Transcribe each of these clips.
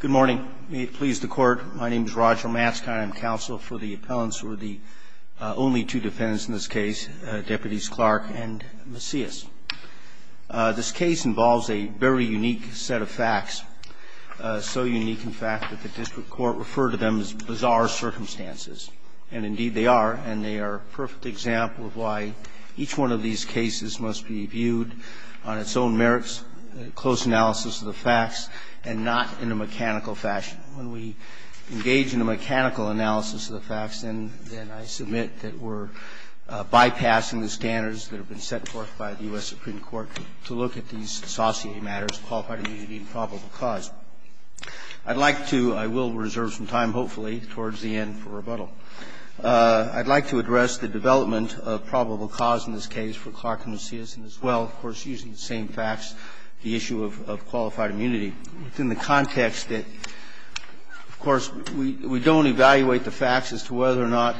Good morning. May it please the Court, my name is Roger Mast. I am counsel for the appellants who are the only two defendants in this case, Deputies Clark and Macias. This case involves a very unique set of facts, so unique in fact that the District Court referred to them as bizarre circumstances. And indeed they are, and they are a perfect example of why each one of these cases must be viewed on its own merits, close analysis of the facts and not in a mechanical fashion. When we engage in a mechanical analysis of the facts, then I submit that we're bypassing the standards that have been set forth by the U.S. Supreme Court to look at these saucier matters, qualified immunity and probable cause. I'd like to, I will reserve some time, hopefully, towards the end for rebuttal. I'd like to address the development of probable cause in this case for Clark and Macias and as well, of course, using the same facts, the issue of qualified immunity within the context that, of course, we don't evaluate the facts as to whether or not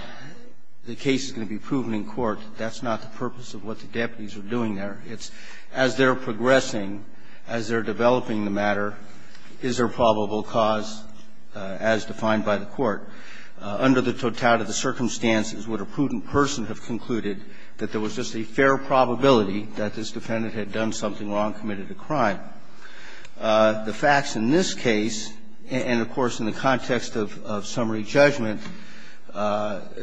the case is going to be proven in court. That's not the purpose of what the deputies are doing there. It's as they're progressing, as they're developing the matter, is there probable cause as defined by the court. Under the totality of the circumstances, would a prudent person have concluded that there was just a fair probability that this defendant had done something wrong, committed a crime? The facts in this case, and, of course, in the context of summary judgment,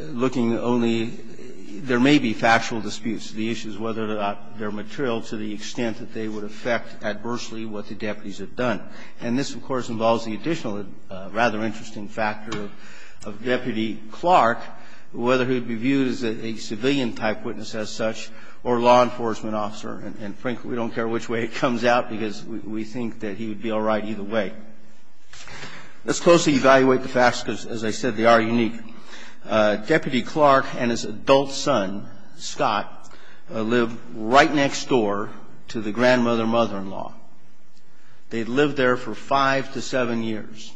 looking only, there may be factual disputes. The issue is whether or not they're material to the extent that they would affect adversely what the deputies have done. And this, of course, involves the additional rather interesting factor of Deputy Clark, whether he would be viewed as a civilian-type witness as such or law enforcement officer. And frankly, we don't care which way it comes out because we think that he would be all right either way. Let's closely evaluate the facts because, as I said, they are unique. Deputy Clark and his adult son, Scott, lived right next door to the grandmother and mother-in-law. They had lived there for five to seven years.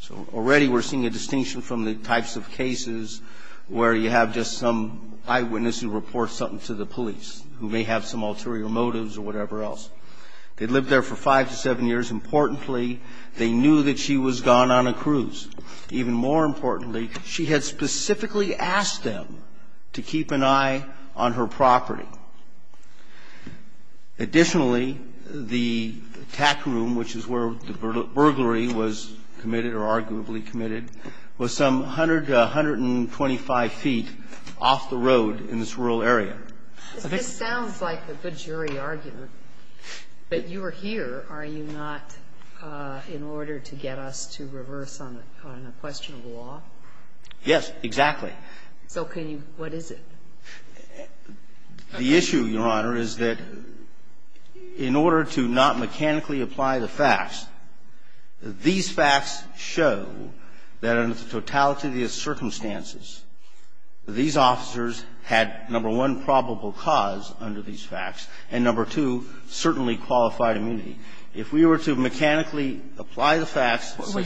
So already we're seeing a distinction from the types of cases where you have just some eyewitness who reports something to the police, who may have some ulterior motives or whatever else. They had lived there for five to seven years. Importantly, they knew that she was gone on a cruise. Even more importantly, she had specifically asked them to keep an eye on her property. Additionally, the attack room, which is where the burglary was committed or arguably committed, was some 100 to 125 feet off the road in this rural area. This sounds like a good jury argument, but you are here, are you not, in order to get us to reverse on a question of law? Yes, exactly. So can you – what is it? The issue, Your Honor, is that in order to not mechanically apply the facts, these facts show that under the totality of the circumstances, these officers had, number one, probable cause under these facts, and number two, certainly qualified immunity. If we were to mechanically apply the facts, the Arpen case – When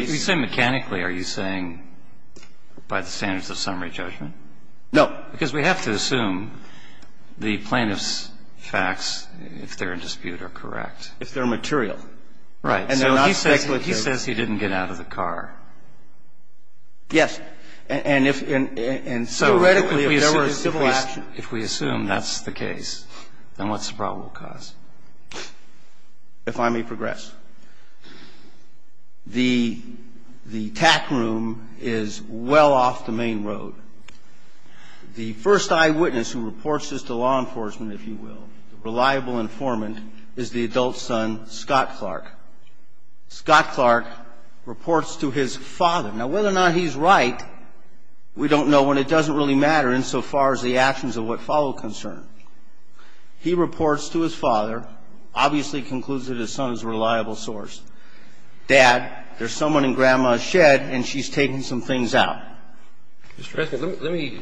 you say mechanically, are you saying by the standards of summary judgment? No. Because we have to assume the plaintiff's facts, if they're in dispute, are correct. If they're material. Right. And they're not speculative. So he says he didn't get out of the car. Yes. And if – and so theoretically, if there were a civil action – If we assume that's the case, then what's the probable cause? If I may progress. The TAC room is well off the main road. The first eyewitness who reports this to law enforcement, if you will, the reliable informant, is the adult son, Scott Clark. Scott Clark reports to his father. Now, whether or not he's right, we don't know, and it doesn't really matter insofar as the actions of what follow concern. He reports to his father, obviously concludes that his son is a reliable source. Dad, there's someone in Grandma's shed and she's taking some things out. Mr. Prescott, let me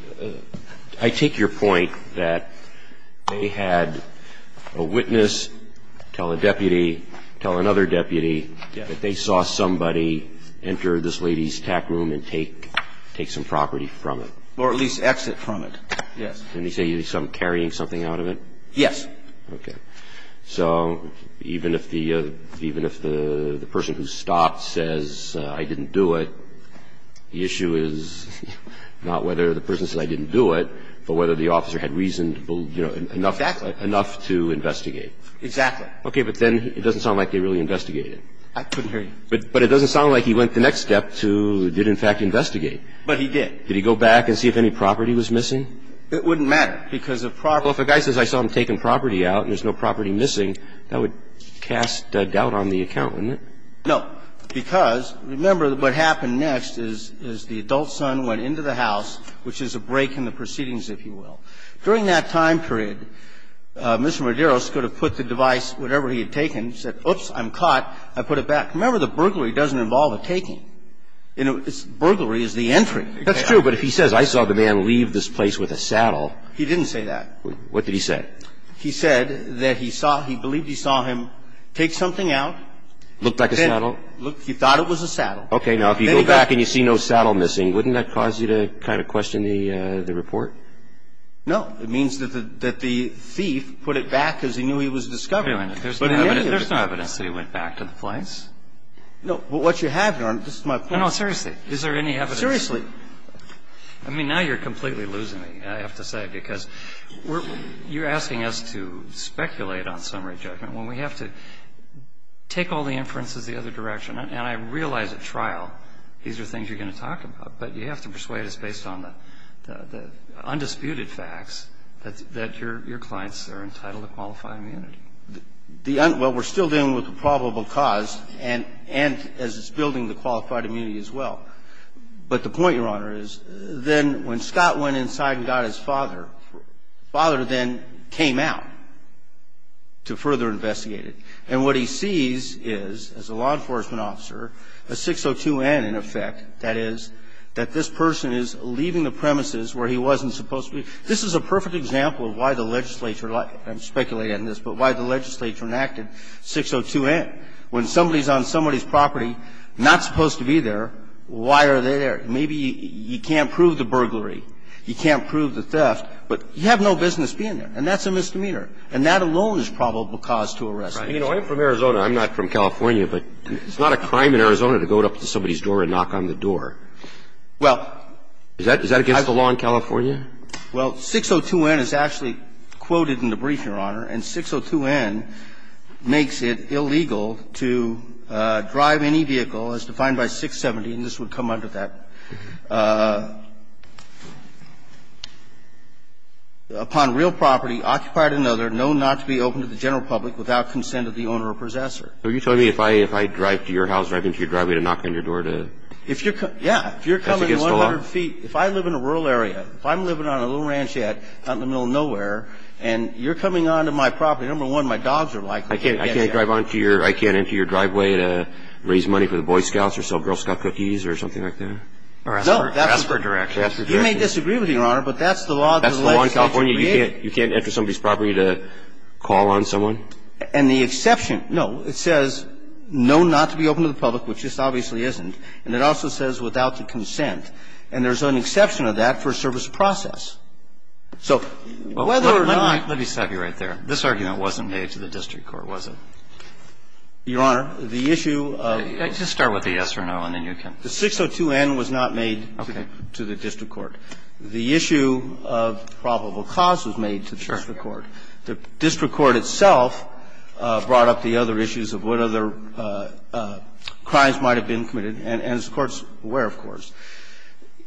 – I take your point that they had a witness tell a deputy, tell another deputy that they saw somebody enter this lady's TAC room and take some property from it. Or at least exit from it. Yes. And you say you saw him carrying something out of it? Yes. Okay. So even if the – even if the person who stopped says, I didn't do it, the issue is not whether the person said, I didn't do it, but whether the officer had reason enough to investigate. Exactly. Okay. But then it doesn't sound like they really investigated. I couldn't hear you. But it doesn't sound like he went the next step to did, in fact, investigate. But he did. Did he go back and see if any property was missing? It wouldn't matter. Because a property – Well, if a guy says, I saw him taking property out and there's no property missing, that would cast doubt on the account, wouldn't it? No. Because, remember, what happened next is the adult son went into the house, which is a break in the proceedings, if you will. During that time period, Mr. Medeiros could have put the device, whatever he had taken, said, oops, I'm caught, I put it back. Remember, the burglary doesn't involve a taking. Burglary is the entry. That's true. But if he says, I saw the man leave this place with a saddle. He didn't say that. What did he say? He said that he saw – he believed he saw him take something out. Looked like a saddle? He thought it was a saddle. Okay. Now, if you go back and you see no saddle missing, wouldn't that cause you to kind of question the report? No. It means that the thief put it back because he knew he was discovering it. There's no evidence that he went back to the place. No. Well, what you have, Your Honor, this is my point. No, no, seriously. Is there any evidence? Seriously. I mean, now you're completely losing me, I have to say, because we're – you're asking us to speculate on summary judgment when we have to take all the inferences the other direction. And I realize at trial these are things you're going to talk about, but you have to persuade us based on the undisputed facts that your clients are entitled to qualified immunity. The – well, we're still dealing with the probable cause and as it's building the qualified immunity as well. But the point, Your Honor, is then when Scott went inside and got his father, the father then came out to further investigate it. And what he sees is, as a law enforcement officer, a 602N in effect, that is, that this person is leaving the premises where he wasn't supposed to be. This is a perfect example of why the legislature – I'm speculating on this – but why the legislature enacted 602N. When somebody's on somebody's property, not supposed to be there, why are they there? Maybe you can't prove the burglary. You can't prove the theft. But you have no business being there. And that's a misdemeanor. And that alone is probable cause to arrest. Right. You know, I'm from Arizona. I'm not from California. But it's not a crime in Arizona to go up to somebody's door and knock on the door. Well – Is that against the law in California? Well, 602N is actually quoted in the brief, Your Honor. And 602N makes it illegal to drive any vehicle as defined by 670. And this would come under that. Upon real property, occupied another, known not to be open to the general public without consent of the owner or possessor. Are you telling me if I drive to your house, drive into your driveway to knock on your door to – If you're – yeah. If you're coming 100 feet – Is that against the law? If I live in a rural area, if I'm living on a little ranch out in the middle of nowhere and you're coming onto my property, number one, my dogs are likely to get there. I can't drive onto your – I can't enter your driveway to raise money for the Boy Scouts or sell Girl Scout cookies or something like that? No. That's for direction. You may disagree with me, Your Honor, but that's the law that the legislation created. That's the law in California. You can't enter somebody's property to call on someone? And the exception – no. It says, known not to be open to the public, which this obviously isn't. And it also says without the consent. And there's an exception to that for a service process. So whether or not – Let me stop you right there. This argument wasn't made to the district court, was it? Your Honor, the issue of – Just start with the yes or no, and then you can – The 602N was not made to the district court. The issue of probable cause was made to the district court. The district court itself brought up the other issues of what other crimes might have been committed, and as the Court's aware, of course.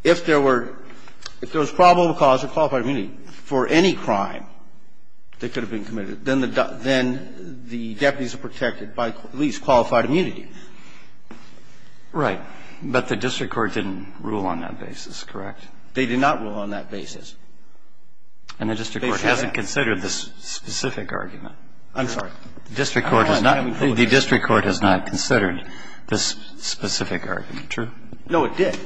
If there were – if there was probable cause of qualified immunity for any crime that could have been committed, then the deputies are protected by at least qualified immunity. Right. But the district court didn't rule on that basis, correct? They did not rule on that basis. And the district court hasn't considered this specific argument. I'm sorry. The district court has not considered this specific argument, true? No, it did.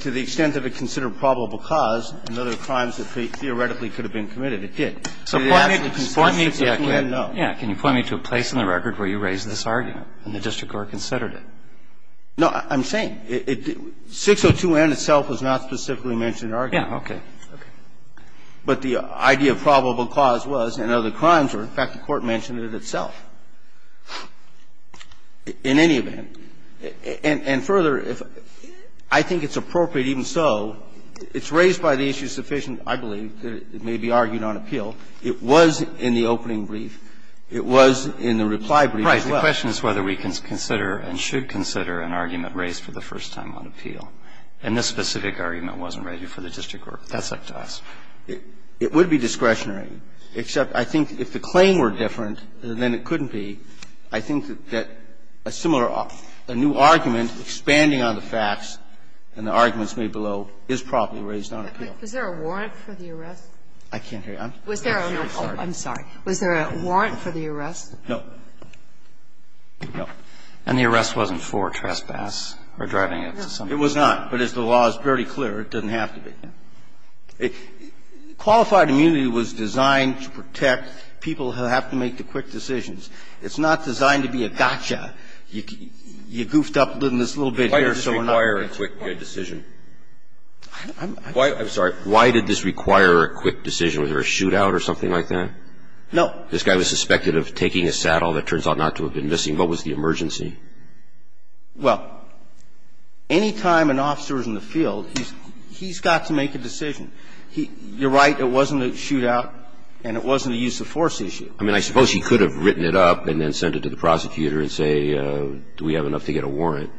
To the extent that it considered probable cause and other crimes that theoretically could have been committed, it did. So the actual consideration is a no. Yeah. Can you point me to a place in the record where you raised this argument and the district court considered it? No. I'm saying 602N itself was not specifically mentioned in the argument. Yeah. Okay. Okay. But the idea of probable cause was and other crimes were. In fact, the Court mentioned it itself in any event. And further, I think it's appropriate even so. It's raised by the issue sufficient, I believe, that it may be argued on appeal. It was in the opening brief. It was in the reply brief as well. Right. The question is whether we can consider and should consider an argument raised for the first time on appeal. And this specific argument wasn't raised before the district court. That's up to us. It would be discretionary, except I think if the claim were different than it couldn't be, I think that a similar, a new argument expanding on the facts and the arguments made below is probably raised on appeal. Was there a warrant for the arrest? I can't hear you. Was there a warrant? I'm sorry. Was there a warrant for the arrest? No. No. And the arrest wasn't for trespass or driving into somebody? No. It was not. But as the law is very clear, it doesn't have to be. Qualified immunity was designed to protect people who have to make the quick decisions. It's not designed to be a gotcha. You goofed up in this little bit here, so we're not going to. Why did this require a quick decision? I'm sorry. Why did this require a quick decision? Was there a shootout or something like that? No. This guy was suspected of taking a saddle that turns out not to have been missing. What was the emergency? Well, any time an officer is in the field, he's got to make a decision. You're right. It wasn't a shootout and it wasn't a use of force issue. I mean, I suppose he could have written it up and then sent it to the prosecutor and say, do we have enough to get a warrant?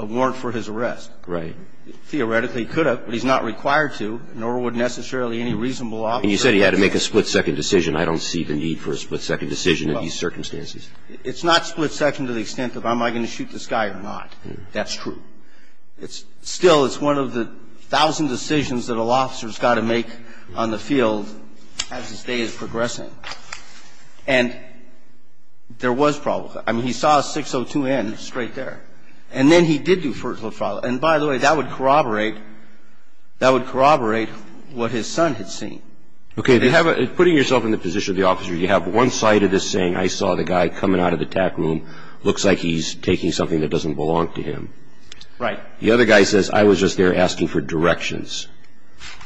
A warrant for his arrest. Right. Theoretically, he could have, but he's not required to, nor would necessarily any reasonable officer. And you said he had to make a split-second decision. I don't see the need for a split-second decision in these circumstances. It's not split-second to the extent of am I going to shoot this guy or not. That's true. Still, it's one of the thousand decisions that an officer has got to make on the field as his day is progressing. And there was problems. I mean, he saw a 602N straight there. And then he did do first-world problems. And, by the way, that would corroborate what his son had seen. Okay. Putting yourself in the position of the officer, you have one side of this saying, I saw the guy coming out of the attack room, looks like he's taking something that doesn't belong to him. Right. The other guy says, I was just there asking for directions.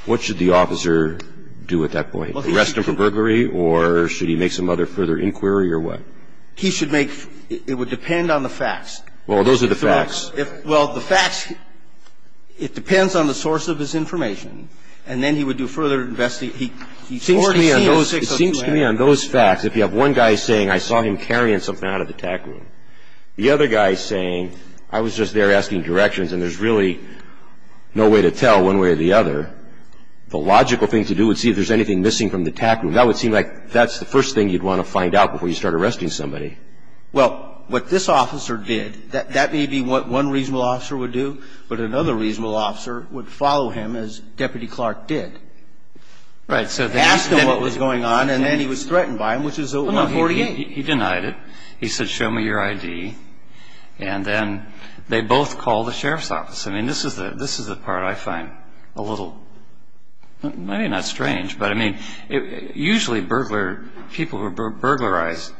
What should the officer do at that point? Arrest him for burglary, or should he make some other further inquiry, or what? He should make, it would depend on the facts. Well, those are the facts. Well, the facts, it depends on the source of his information. And then he would do further investigation. It seems to me on those facts, if you have one guy saying, I saw him carrying something out of the attack room, the other guy saying, I was just there asking directions, and there's really no way to tell one way or the other, the logical thing to do would see if there's anything missing from the attack room. That would seem like that's the first thing you'd want to find out before you start arresting somebody. Well, what this officer did, that may be what one reasonable officer would do, but another reasonable officer would follow him, as Deputy Clark did. Right. Ask him what was going on, and then he was threatened by him, which is a 148. He denied it. He said, show me your ID. And then they both called the sheriff's office. I mean, this is the part I find a little, maybe not strange, but, I mean, usually people who are burglarized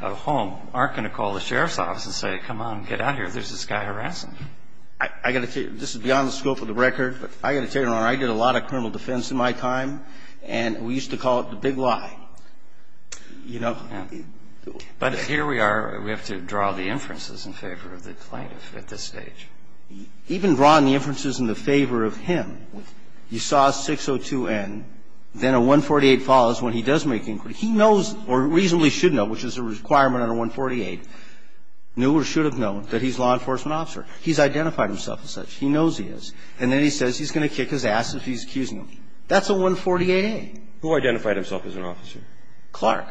at home aren't going to call the sheriff's office and say, come on, get out of here, there's this guy harassing you. I've got to tell you, this is beyond the scope of the record, but I've got to tell you, Your Honor, I did a lot of criminal defense in my time, and we used to call it the big lie. You know. But here we are. We have to draw the inferences in favor of the plaintiff at this stage. Even drawing the inferences in the favor of him, you saw 602N, then a 148 follows when he does make inquiry. He knows, or reasonably should know, which is a requirement under 148, knew or should have known that he's a law enforcement officer. He's identified himself as such. He knows he is. And then he says he's going to kick his ass if he's accusing him. That's a 148A. Who identified himself as an officer? Clark.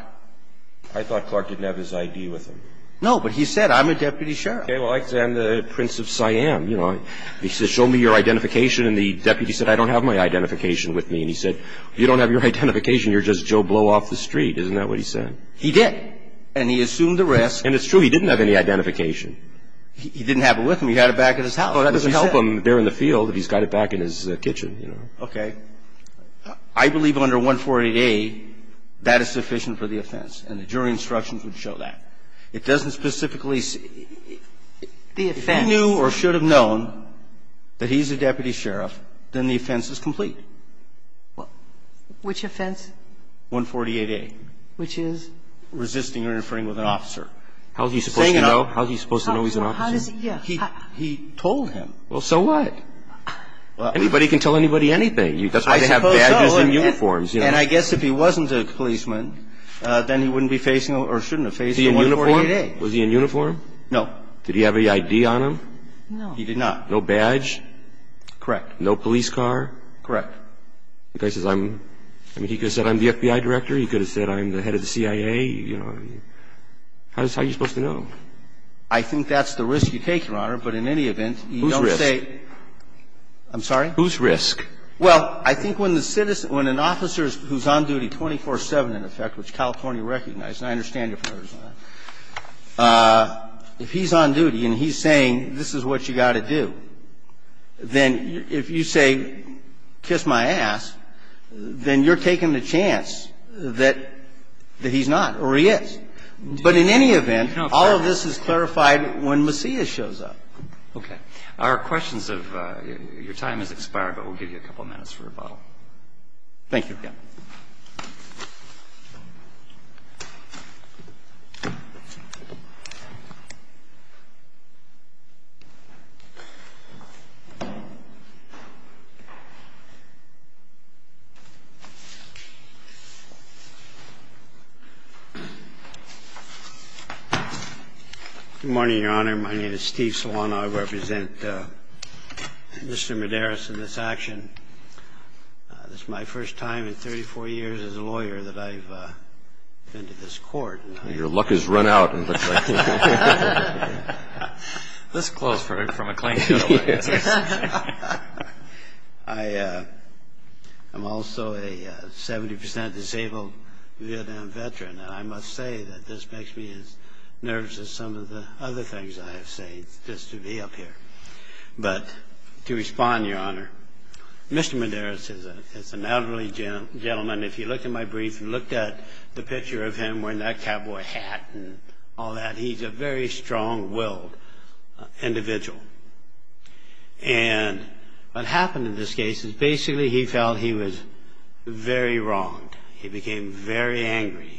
I thought Clark didn't have his ID with him. No, but he said, I'm a deputy sheriff. Okay. Well, I'm the Prince of Siam, you know. He said, show me your identification, and the deputy said, I don't have my identification with me. And he said, you don't have your identification, you're just Joe Blow off the street. Isn't that what he said? He did. And he assumed the risk. And it's true. He didn't have any identification. He didn't have it with him. He had it back at his house. Well, that doesn't help him there in the field if he's got it back in his kitchen, you know. Okay. I believe under 148A, that is sufficient for the offense, and the jury instructions would show that. It doesn't specifically say. The offense. If he knew or should have known that he's a deputy sheriff, then the offense is complete. Which offense? 148A. Which is? Resisting or interfering with an officer. How is he supposed to know? How is he supposed to know he's an officer? How does he know? He told him. Well, so what? Anybody can tell anybody anything. That's why they have badges and uniforms. I suppose so. And I guess if he wasn't a policeman, then he wouldn't be facing or shouldn't have faced 148A. Was he in uniform? No. Did he have any ID on him? No. He did not. No badge? Correct. No police car? Correct. He could have said I'm the FBI director. He could have said I'm the head of the CIA. How are you supposed to know? I think that's the risk you take, Your Honor. But in any event, you don't say. Whose risk? I'm sorry? Whose risk? Well, I think when an officer who's on duty 24-7, in effect, which California recognized, and I understand you're from Arizona, if he's on duty and he's saying this is what you've got to do, then if you say kiss my ass, then you're taking the chance that he's not or he is. But in any event, all of this is clarified when Messiah shows up. Okay. Your time has expired, but we'll give you a couple minutes for rebuttal. Thank you. Yeah. Good morning, Your Honor. My name is Steve Solano. I represent Mr. Medeiros in this action. This is my first time in 34 years as a lawyer that I've been to this court. Well, your luck has run out. It looks like. This close from a claim to the law. Yes. I'm also a 70% disabled Vietnam veteran, and I must say that this makes me as nervous as some of the other things I have said just to be up here. But to respond, Your Honor, Mr. Medeiros is an elderly gentleman. If you looked at my brief, you looked at the picture of him wearing that cowboy hat and all that. He's a very strong-willed individual. And what happened in this case is basically he felt he was very wronged. He became very angry.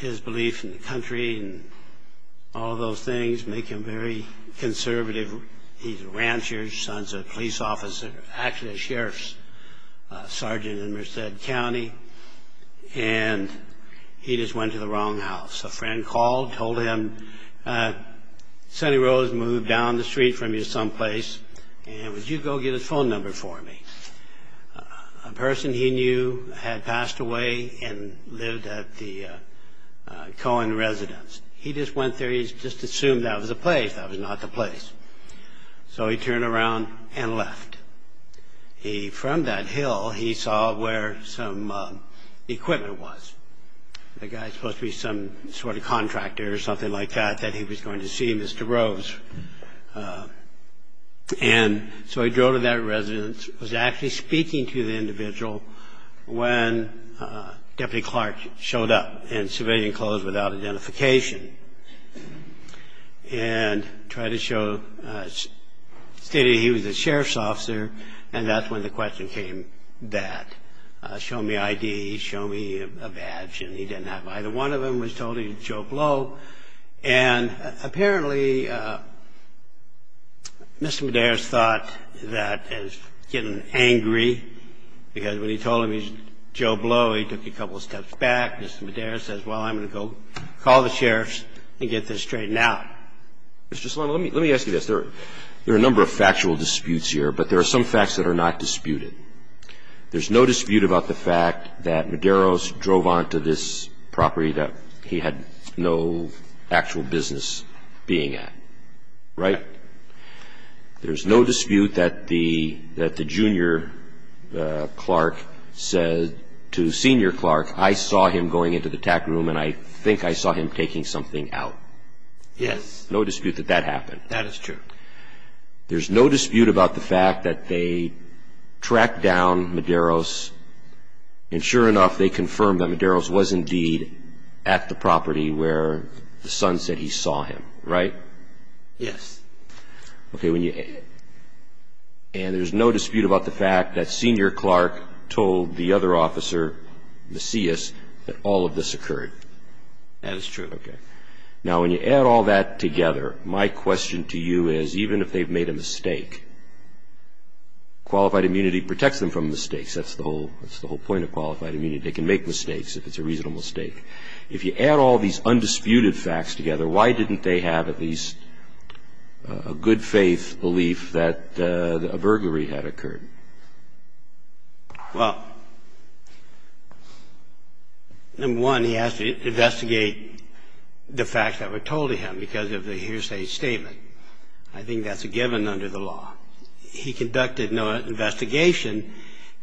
His belief in the country and all of those things make him very conservative. He's a rancher. His son's a police officer, actually a sheriff's sergeant in Merced County. And he just went to the wrong house. A friend called, told him, Sonny Rose moved down the street from you someplace, and would you go get his phone number for me? A person he knew had passed away and lived at the Cohen residence. He just went there. He just assumed that was the place. That was not the place. So he turned around and left. From that hill, he saw where some equipment was. The guy was supposed to be some sort of contractor or something like that, that he was going to see Mr. Rose. And so he drove to that residence. Was actually speaking to the individual when Deputy Clark showed up in civilian clothes without identification and tried to show, stated he was a sheriff's officer, and that's when the question came that. Show me ID. Show me a badge. And he didn't have either one of them. Was told he was Joe Blow. And apparently, Mr. Medeiros thought that as getting angry, because when he told him he was Joe Blow, he took a couple of steps back. Mr. Medeiros says, well, I'm going to go call the sheriffs and get this straightened out. Mr. Sloan, let me ask you this. There are a number of factual disputes here, but there are some facts that are not disputed. There's no dispute about the fact that Medeiros drove onto this property that he had no actual business being at, right? There's no dispute that the junior Clark said to senior Clark, I saw him going into the tack room and I think I saw him taking something out. Yes. No dispute that that happened. That is true. There's no dispute about the fact that they tracked down Medeiros. And sure enough, they confirmed that Medeiros was indeed at the property where the son said he saw him, right? Yes. Okay. And there's no dispute about the fact that senior Clark told the other officer, Macias, that all of this occurred. That is true. Okay. Now, when you add all that together, my question to you is, even if they've made a mistake, qualified immunity protects them from mistakes. That's the whole point of qualified immunity. They can make mistakes if it's a reasonable mistake. If you add all these undisputed facts together, why didn't they have at least a good faith belief that a burglary had occurred? Well, number one, he has to investigate the facts that were told to him because of the hearsay statement. I think that's a given under the law. He conducted no investigation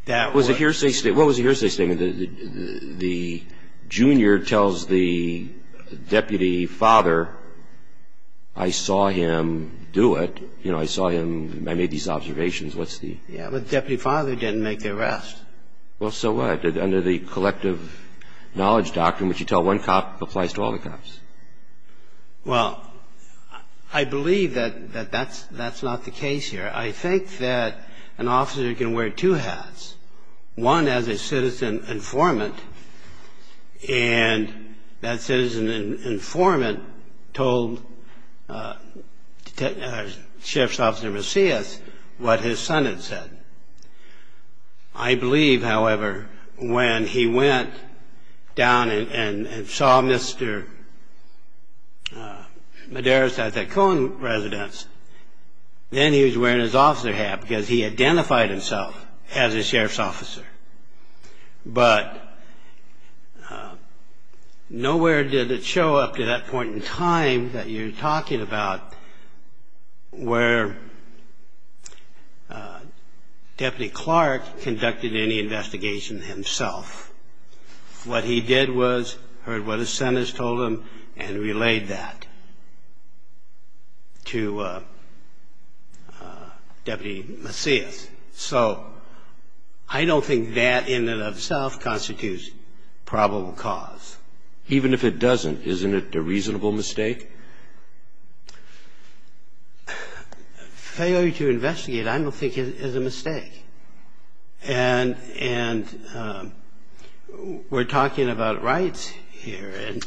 that was a hearsay statement. What was the hearsay statement? The junior tells the deputy father, I saw him do it. You know, I saw him, I made these observations. Yeah, but the deputy father didn't make the arrest. Well, so what? Under the collective knowledge doctrine, what you tell one cop applies to all the cops. Well, I believe that that's not the case here. I think that an officer can wear two hats, one as a citizen informant, and that citizen informant told Sheriff's Officer Macias what his son had said. I believe, however, when he went down and saw Mr. Medeiros at that Cohen residence, then he was wearing his officer hat because he identified himself as a sheriff's officer. But nowhere did it show up to that point in time that you're talking about where Deputy Clark conducted any investigation himself. What he did was heard what his son has told him and relayed that to Deputy Macias. So I don't think that in and of itself constitutes probable cause. Even if it doesn't, isn't it a reasonable mistake? Failure to investigate I don't think is a mistake. And we're talking about rights here. And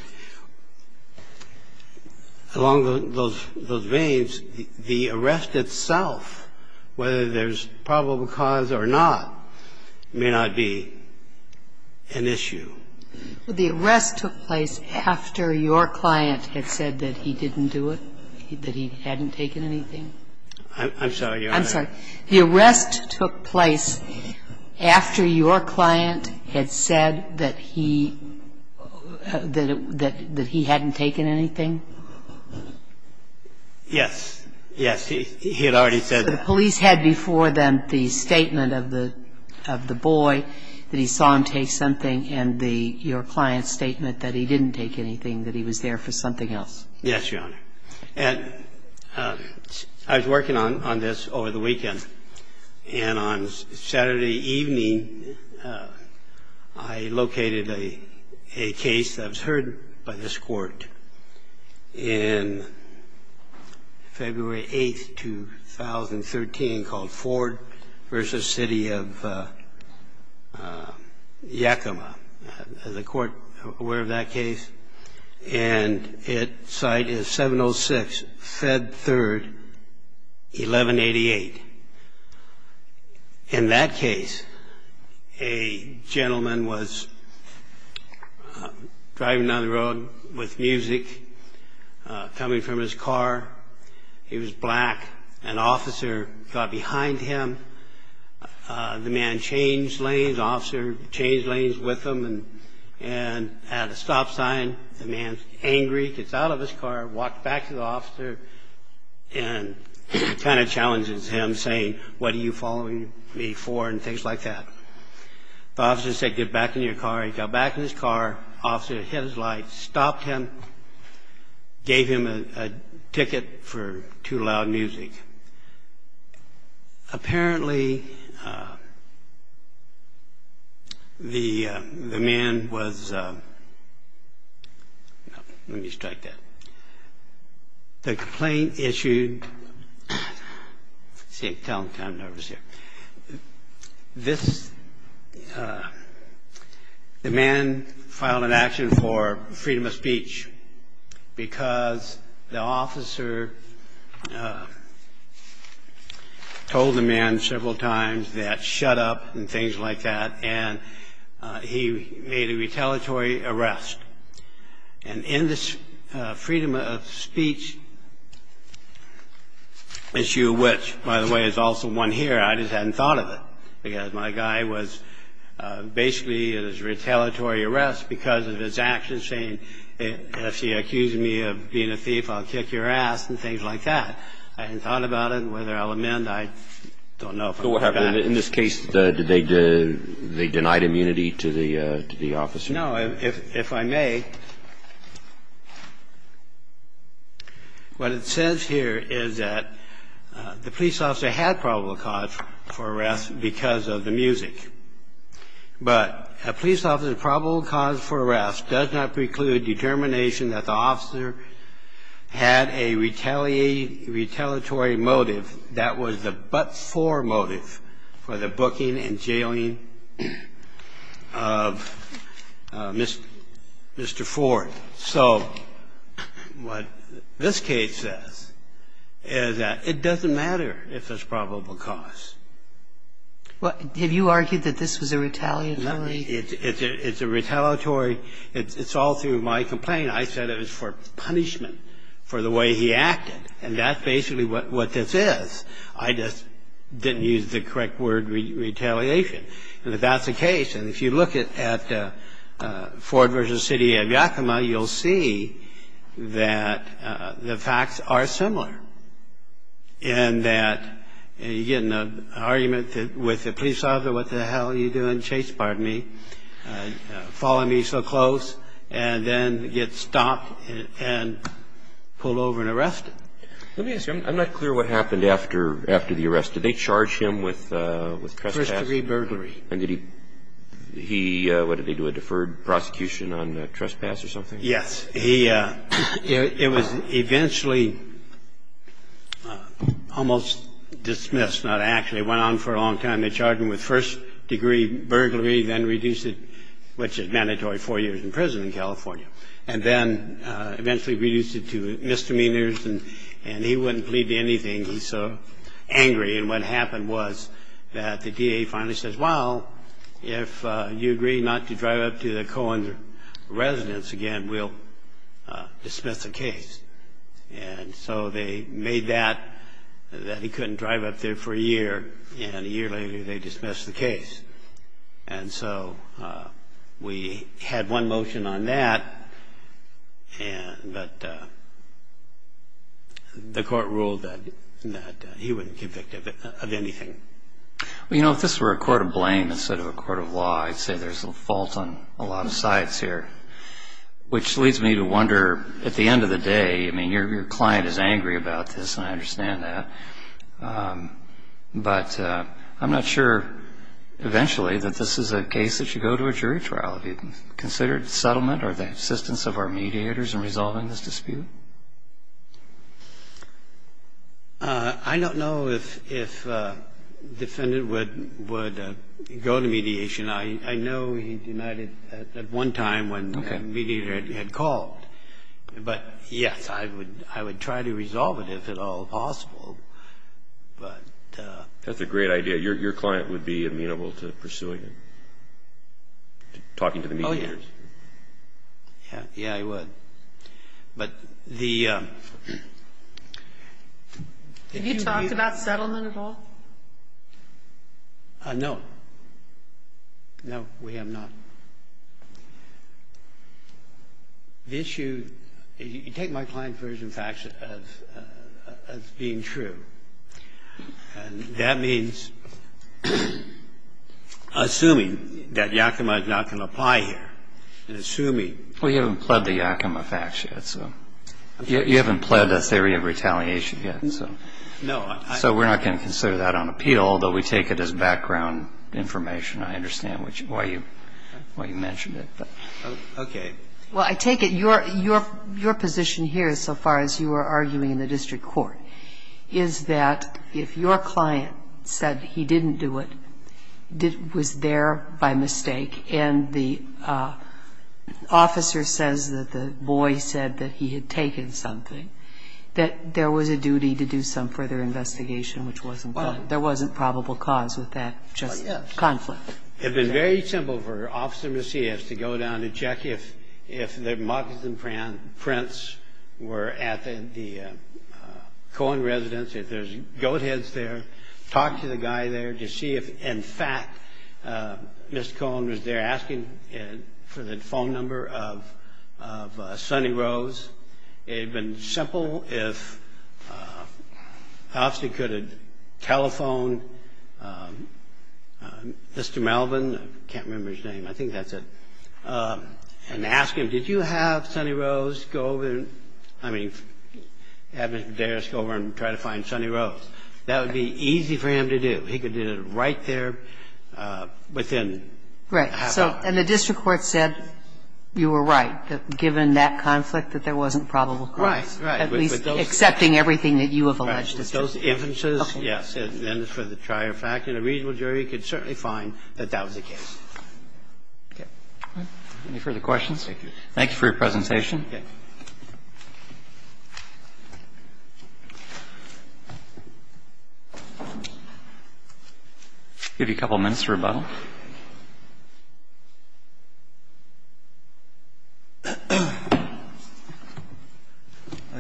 along those veins, the arrest itself, whether there's probable cause or not, may not be an issue. The arrest took place after your client had said that he didn't do it, that he hadn't taken anything? I'm sorry, Your Honor. I'm sorry. The arrest took place after your client had said that he hadn't taken anything? Yes. Yes. He had already said that. The police had before them the statement of the boy, that he saw him take something, and your client's statement that he didn't take anything, that he was there for something else. Yes, Your Honor. I was working on this over the weekend. And on Saturday evening, I located a case that was heard by this court in February 8, 2013, called Ford v. City of Yakima. Is the court aware of that case? And its site is 706 Fed Third, 1188. In that case, a gentleman was driving down the road with music coming from his car. He was black. An officer got behind him. The man changed lanes. The officer changed lanes with him and had a stop sign. The man's angry, gets out of his car, walked back to the officer, and kind of challenges him saying, what are you following me for, and things like that. The officer said, get back in your car. He got back in his car. Officer hit his light, stopped him, gave him a ticket for too loud music. Apparently, the man was, let me strike that. The complaint issued, see, tell them, I'm nervous here. This, the man filed an action for freedom of speech because the officer told the man several times that shut up and things like that, and he made a retaliatory arrest. And in this freedom of speech issue, which, by the way, is also one here, I just hadn't thought of it, because my guy was basically in his retaliatory arrest because of his actions, saying if you accuse me of being a thief, I'll kick your ass and things like that. I hadn't thought about it. Whether I'll amend, I don't know. So what happened? In this case, did they deny immunity to the officer? No. If I may, what it says here is that the police officer had probable cause for arrest because of the music. But a police officer's probable cause for arrest does not preclude determination that the officer had a retaliatory motive that was the but-for motive for the booking and jailing of Mr. Ford. So what this case says is that it doesn't matter if there's probable cause. Have you argued that this was a retaliatory? It's a retaliatory. It's all through my complaint. I said it was for punishment for the way he acted, and that's basically what this is. I just didn't use the correct word, retaliation. And if that's the case, and if you look at Ford v. City of Yakima, you'll see that the facts are similar in that you get in an argument with the police officer, what the hell are you doing, Chase, pardon me, following me so close, and then get stopped and pulled over and arrested. Let me ask you, I'm not clear what happened after the arrest. Did they charge him with trespass? First-degree burglary. And did he do a deferred prosecution on trespass or something? Yes. It was eventually almost dismissed, not actually. It went on for a long time. They charged him with first-degree burglary, then reduced it, which is mandatory, four years in prison in California, and then eventually reduced it to misdemeanors and he wouldn't plead to anything. He's so angry, and what happened was that the DA finally says, well, if you agree not to drive up to the Cohen residence again, we'll dismiss the case. And so they made that, that he couldn't drive up there for a year, and a year later they dismissed the case. And so we had one motion on that, but the court ruled that he wouldn't be convicted of anything. Well, you know, if this were a court of blame instead of a court of law, I'd say there's a fault on a lot of sides here, which leads me to wonder, at the end of the day, I mean, your client is angry about this, and I understand that, but I'm not sure eventually that this is a case that should go to a jury trial. Have you considered settlement or the assistance of our mediators in resolving this dispute? I don't know if a defendant would go to mediation. I know he denied it at one time when the mediator had called, but, yes, I would try to resolve it if at all possible, but. That's a great idea. Your client would be amenable to pursuing it, talking to the mediators? Oh, yeah. Yeah, he would. But the... Have you talked about settlement at all? No. No, we have not. The issue, you take my client's version of facts as being true, and that means assuming that Yakima is not going to apply here, and assuming... Well, you haven't pled the Yakima facts yet, so... You haven't pled the theory of retaliation yet, so... No, I... So we're not going to consider that on appeal, although we take it as background information. I understand why you mentioned it, but... Okay. Well, I take it your position here so far as you were arguing in the district court is that if your client said he didn't do it, was there by mistake, and the officer says that the boy said that he had taken something, that there was a duty to do some further investigation, which wasn't... Well. There wasn't probable cause with that. Yes. Conflict. It would be very simple for Officer Macias to go down and check if the Marks and Prints were at the Cohen residence, if there's goat heads there, talk to the guy there to see if, in fact, Mr. Cohen was there asking for the phone number of Sonny Rose. It would have been simple if the officer could have telephoned Mr. Melvin, I can't remember his name, I think that's it, and asked him, did you have Sonny Rose go over and, I mean, have Mr. Dares go over and try to find Sonny Rose. That would be easy for him to do. He could do it right there within half an hour. Right. So, and the district court said you were right, that given that conflict that there wasn't probable cause. Right. Right. With those. At least accepting everything that you have alleged. With those evidences, yes. And then for the trier fact, and a reasonable jury could certainly find that that was the case. Okay. Any further questions? Thank you. Thank you for your presentation. Okay. I'll give you a couple minutes for rebuttal.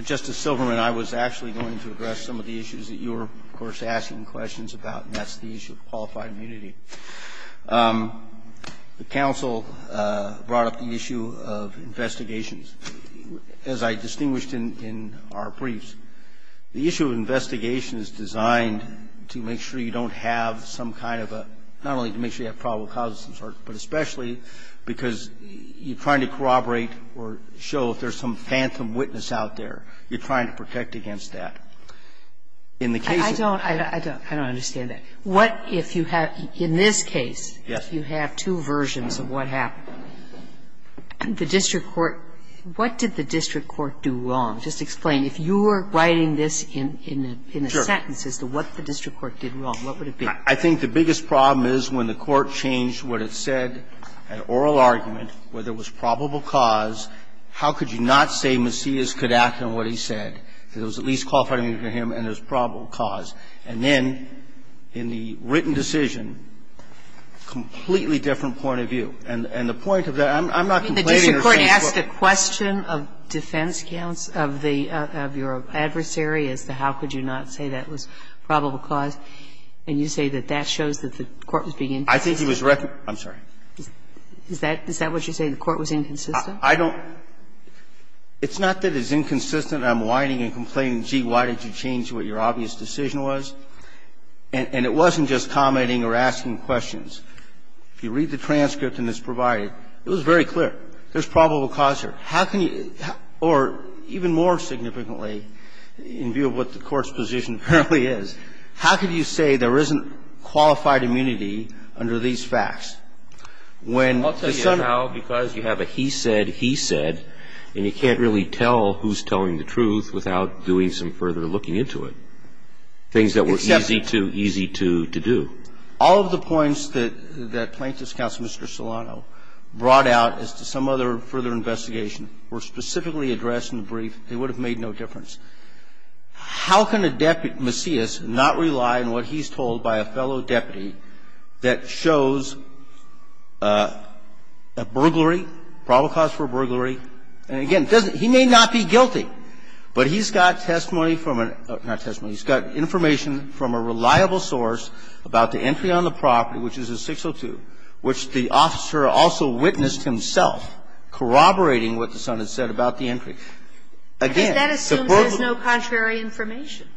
Justice Silverman, I was actually going to address some of the issues that you were, of course, asking questions about, and that's the issue of qualified immunity. The counsel brought up the issue of investigations. As I distinguished in our briefs, the issue of investigation is designed to make sure you don't have some kind of a, not only to make sure you have probable causes of some sort, but especially because you're trying to corroborate or show if there's some phantom witness out there. You're trying to protect against that. In the case of the district court. I don't understand that. What if you have, in this case, if you have two versions of what happened, the district court, what did the district court do wrong? Just explain. If you were writing this in a sentence as to what the district court did wrong, what would it be? I think the biggest problem is when the court changed what it said, an oral argument, where there was probable cause, how could you not say Macias could act on what he said? It was at least qualified immunity for him and there's probable cause. And then in the written decision, completely different point of view. I mean, the district court asked a question of defense counts of the, of your adversary as to how could you not say that was probable cause. And you say that that shows that the court was being inconsistent. I think he was, I'm sorry. Is that, is that what you're saying, the court was inconsistent? I don't. It's not that it's inconsistent. I'm whining and complaining, gee, why did you change what your obvious decision was. And it wasn't just commenting or asking questions. If you read the transcript and it's provided, it was very clear. There's probable cause here. How can you, or even more significantly, in view of what the Court's position apparently is, how could you say there isn't qualified immunity under these facts when the son of. I'll tell you how, because you have a he said, he said, and you can't really tell who's telling the truth without doing some further looking into it. Things that were easy to, easy to, to do. All of the points that, that Plaintiff's counsel, Mr. Solano, brought out as to some other further investigation were specifically addressed in the brief. They would have made no difference. How can a deputy, Macias, not rely on what he's told by a fellow deputy that shows a burglary, probable cause for a burglary? And again, he may not be guilty, but he's got testimony from a, not testimony, he's got information from a reliable source about the entry on the property, which is a 602, which the officer also witnessed himself corroborating what the son had said about the entry. Again, the burglary. There is no contrary information.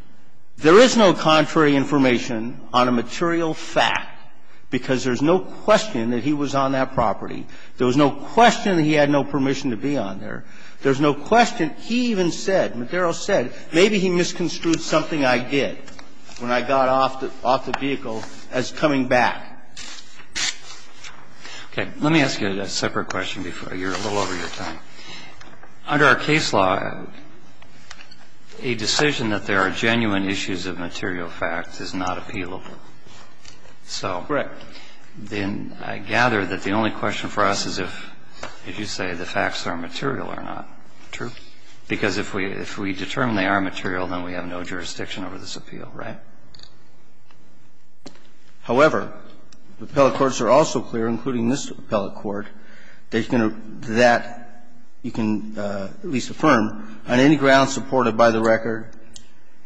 There is no contrary information on a material fact, because there's no question that he was on that property. There was no question that he had no permission to be on there. There's no question. He even said, Madero said, maybe he misconstrued something I did when I got off the vehicle as coming back. Okay. Let me ask you a separate question before you're a little over your time. Under our case law, a decision that there are genuine issues of material facts is not appealable. So then I gather that the only question for us is if, as you say, the facts are material or not. True. Because if we determine they are material, then we have no jurisdiction over this appeal, right? However, appellate courts are also clear, including this appellate court, that you can at least affirm, on any ground supported by the record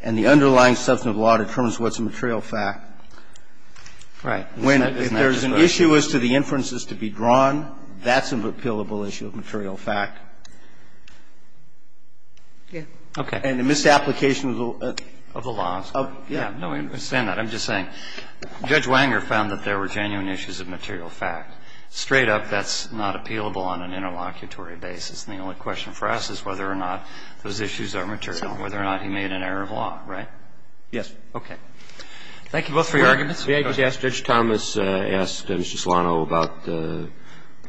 and the underlying substantive law determines what's a material fact. Right. If there's an issue as to the inferences to be drawn, that's an appealable issue of material fact. Okay. And the misapplication of the laws. Yeah. No, I understand that. I'm just saying. Judge Wanger found that there were genuine issues of material fact. Straight up, that's not appealable on an interlocutory basis, and the only question for us is whether or not those issues are material, whether or not he made an error of law, right? Yes. Okay. Thank you both for your arguments. May I just ask, Judge Thomas asked Mr. Solano about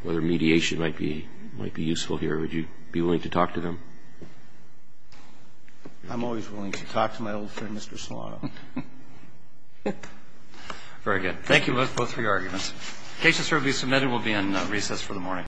whether mediation might be useful here. Would you be willing to talk to them? I'm always willing to talk to my old friend, Mr. Solano. Very good. Thank you both for your arguments. The case has now been submitted and will be in recess for the morning.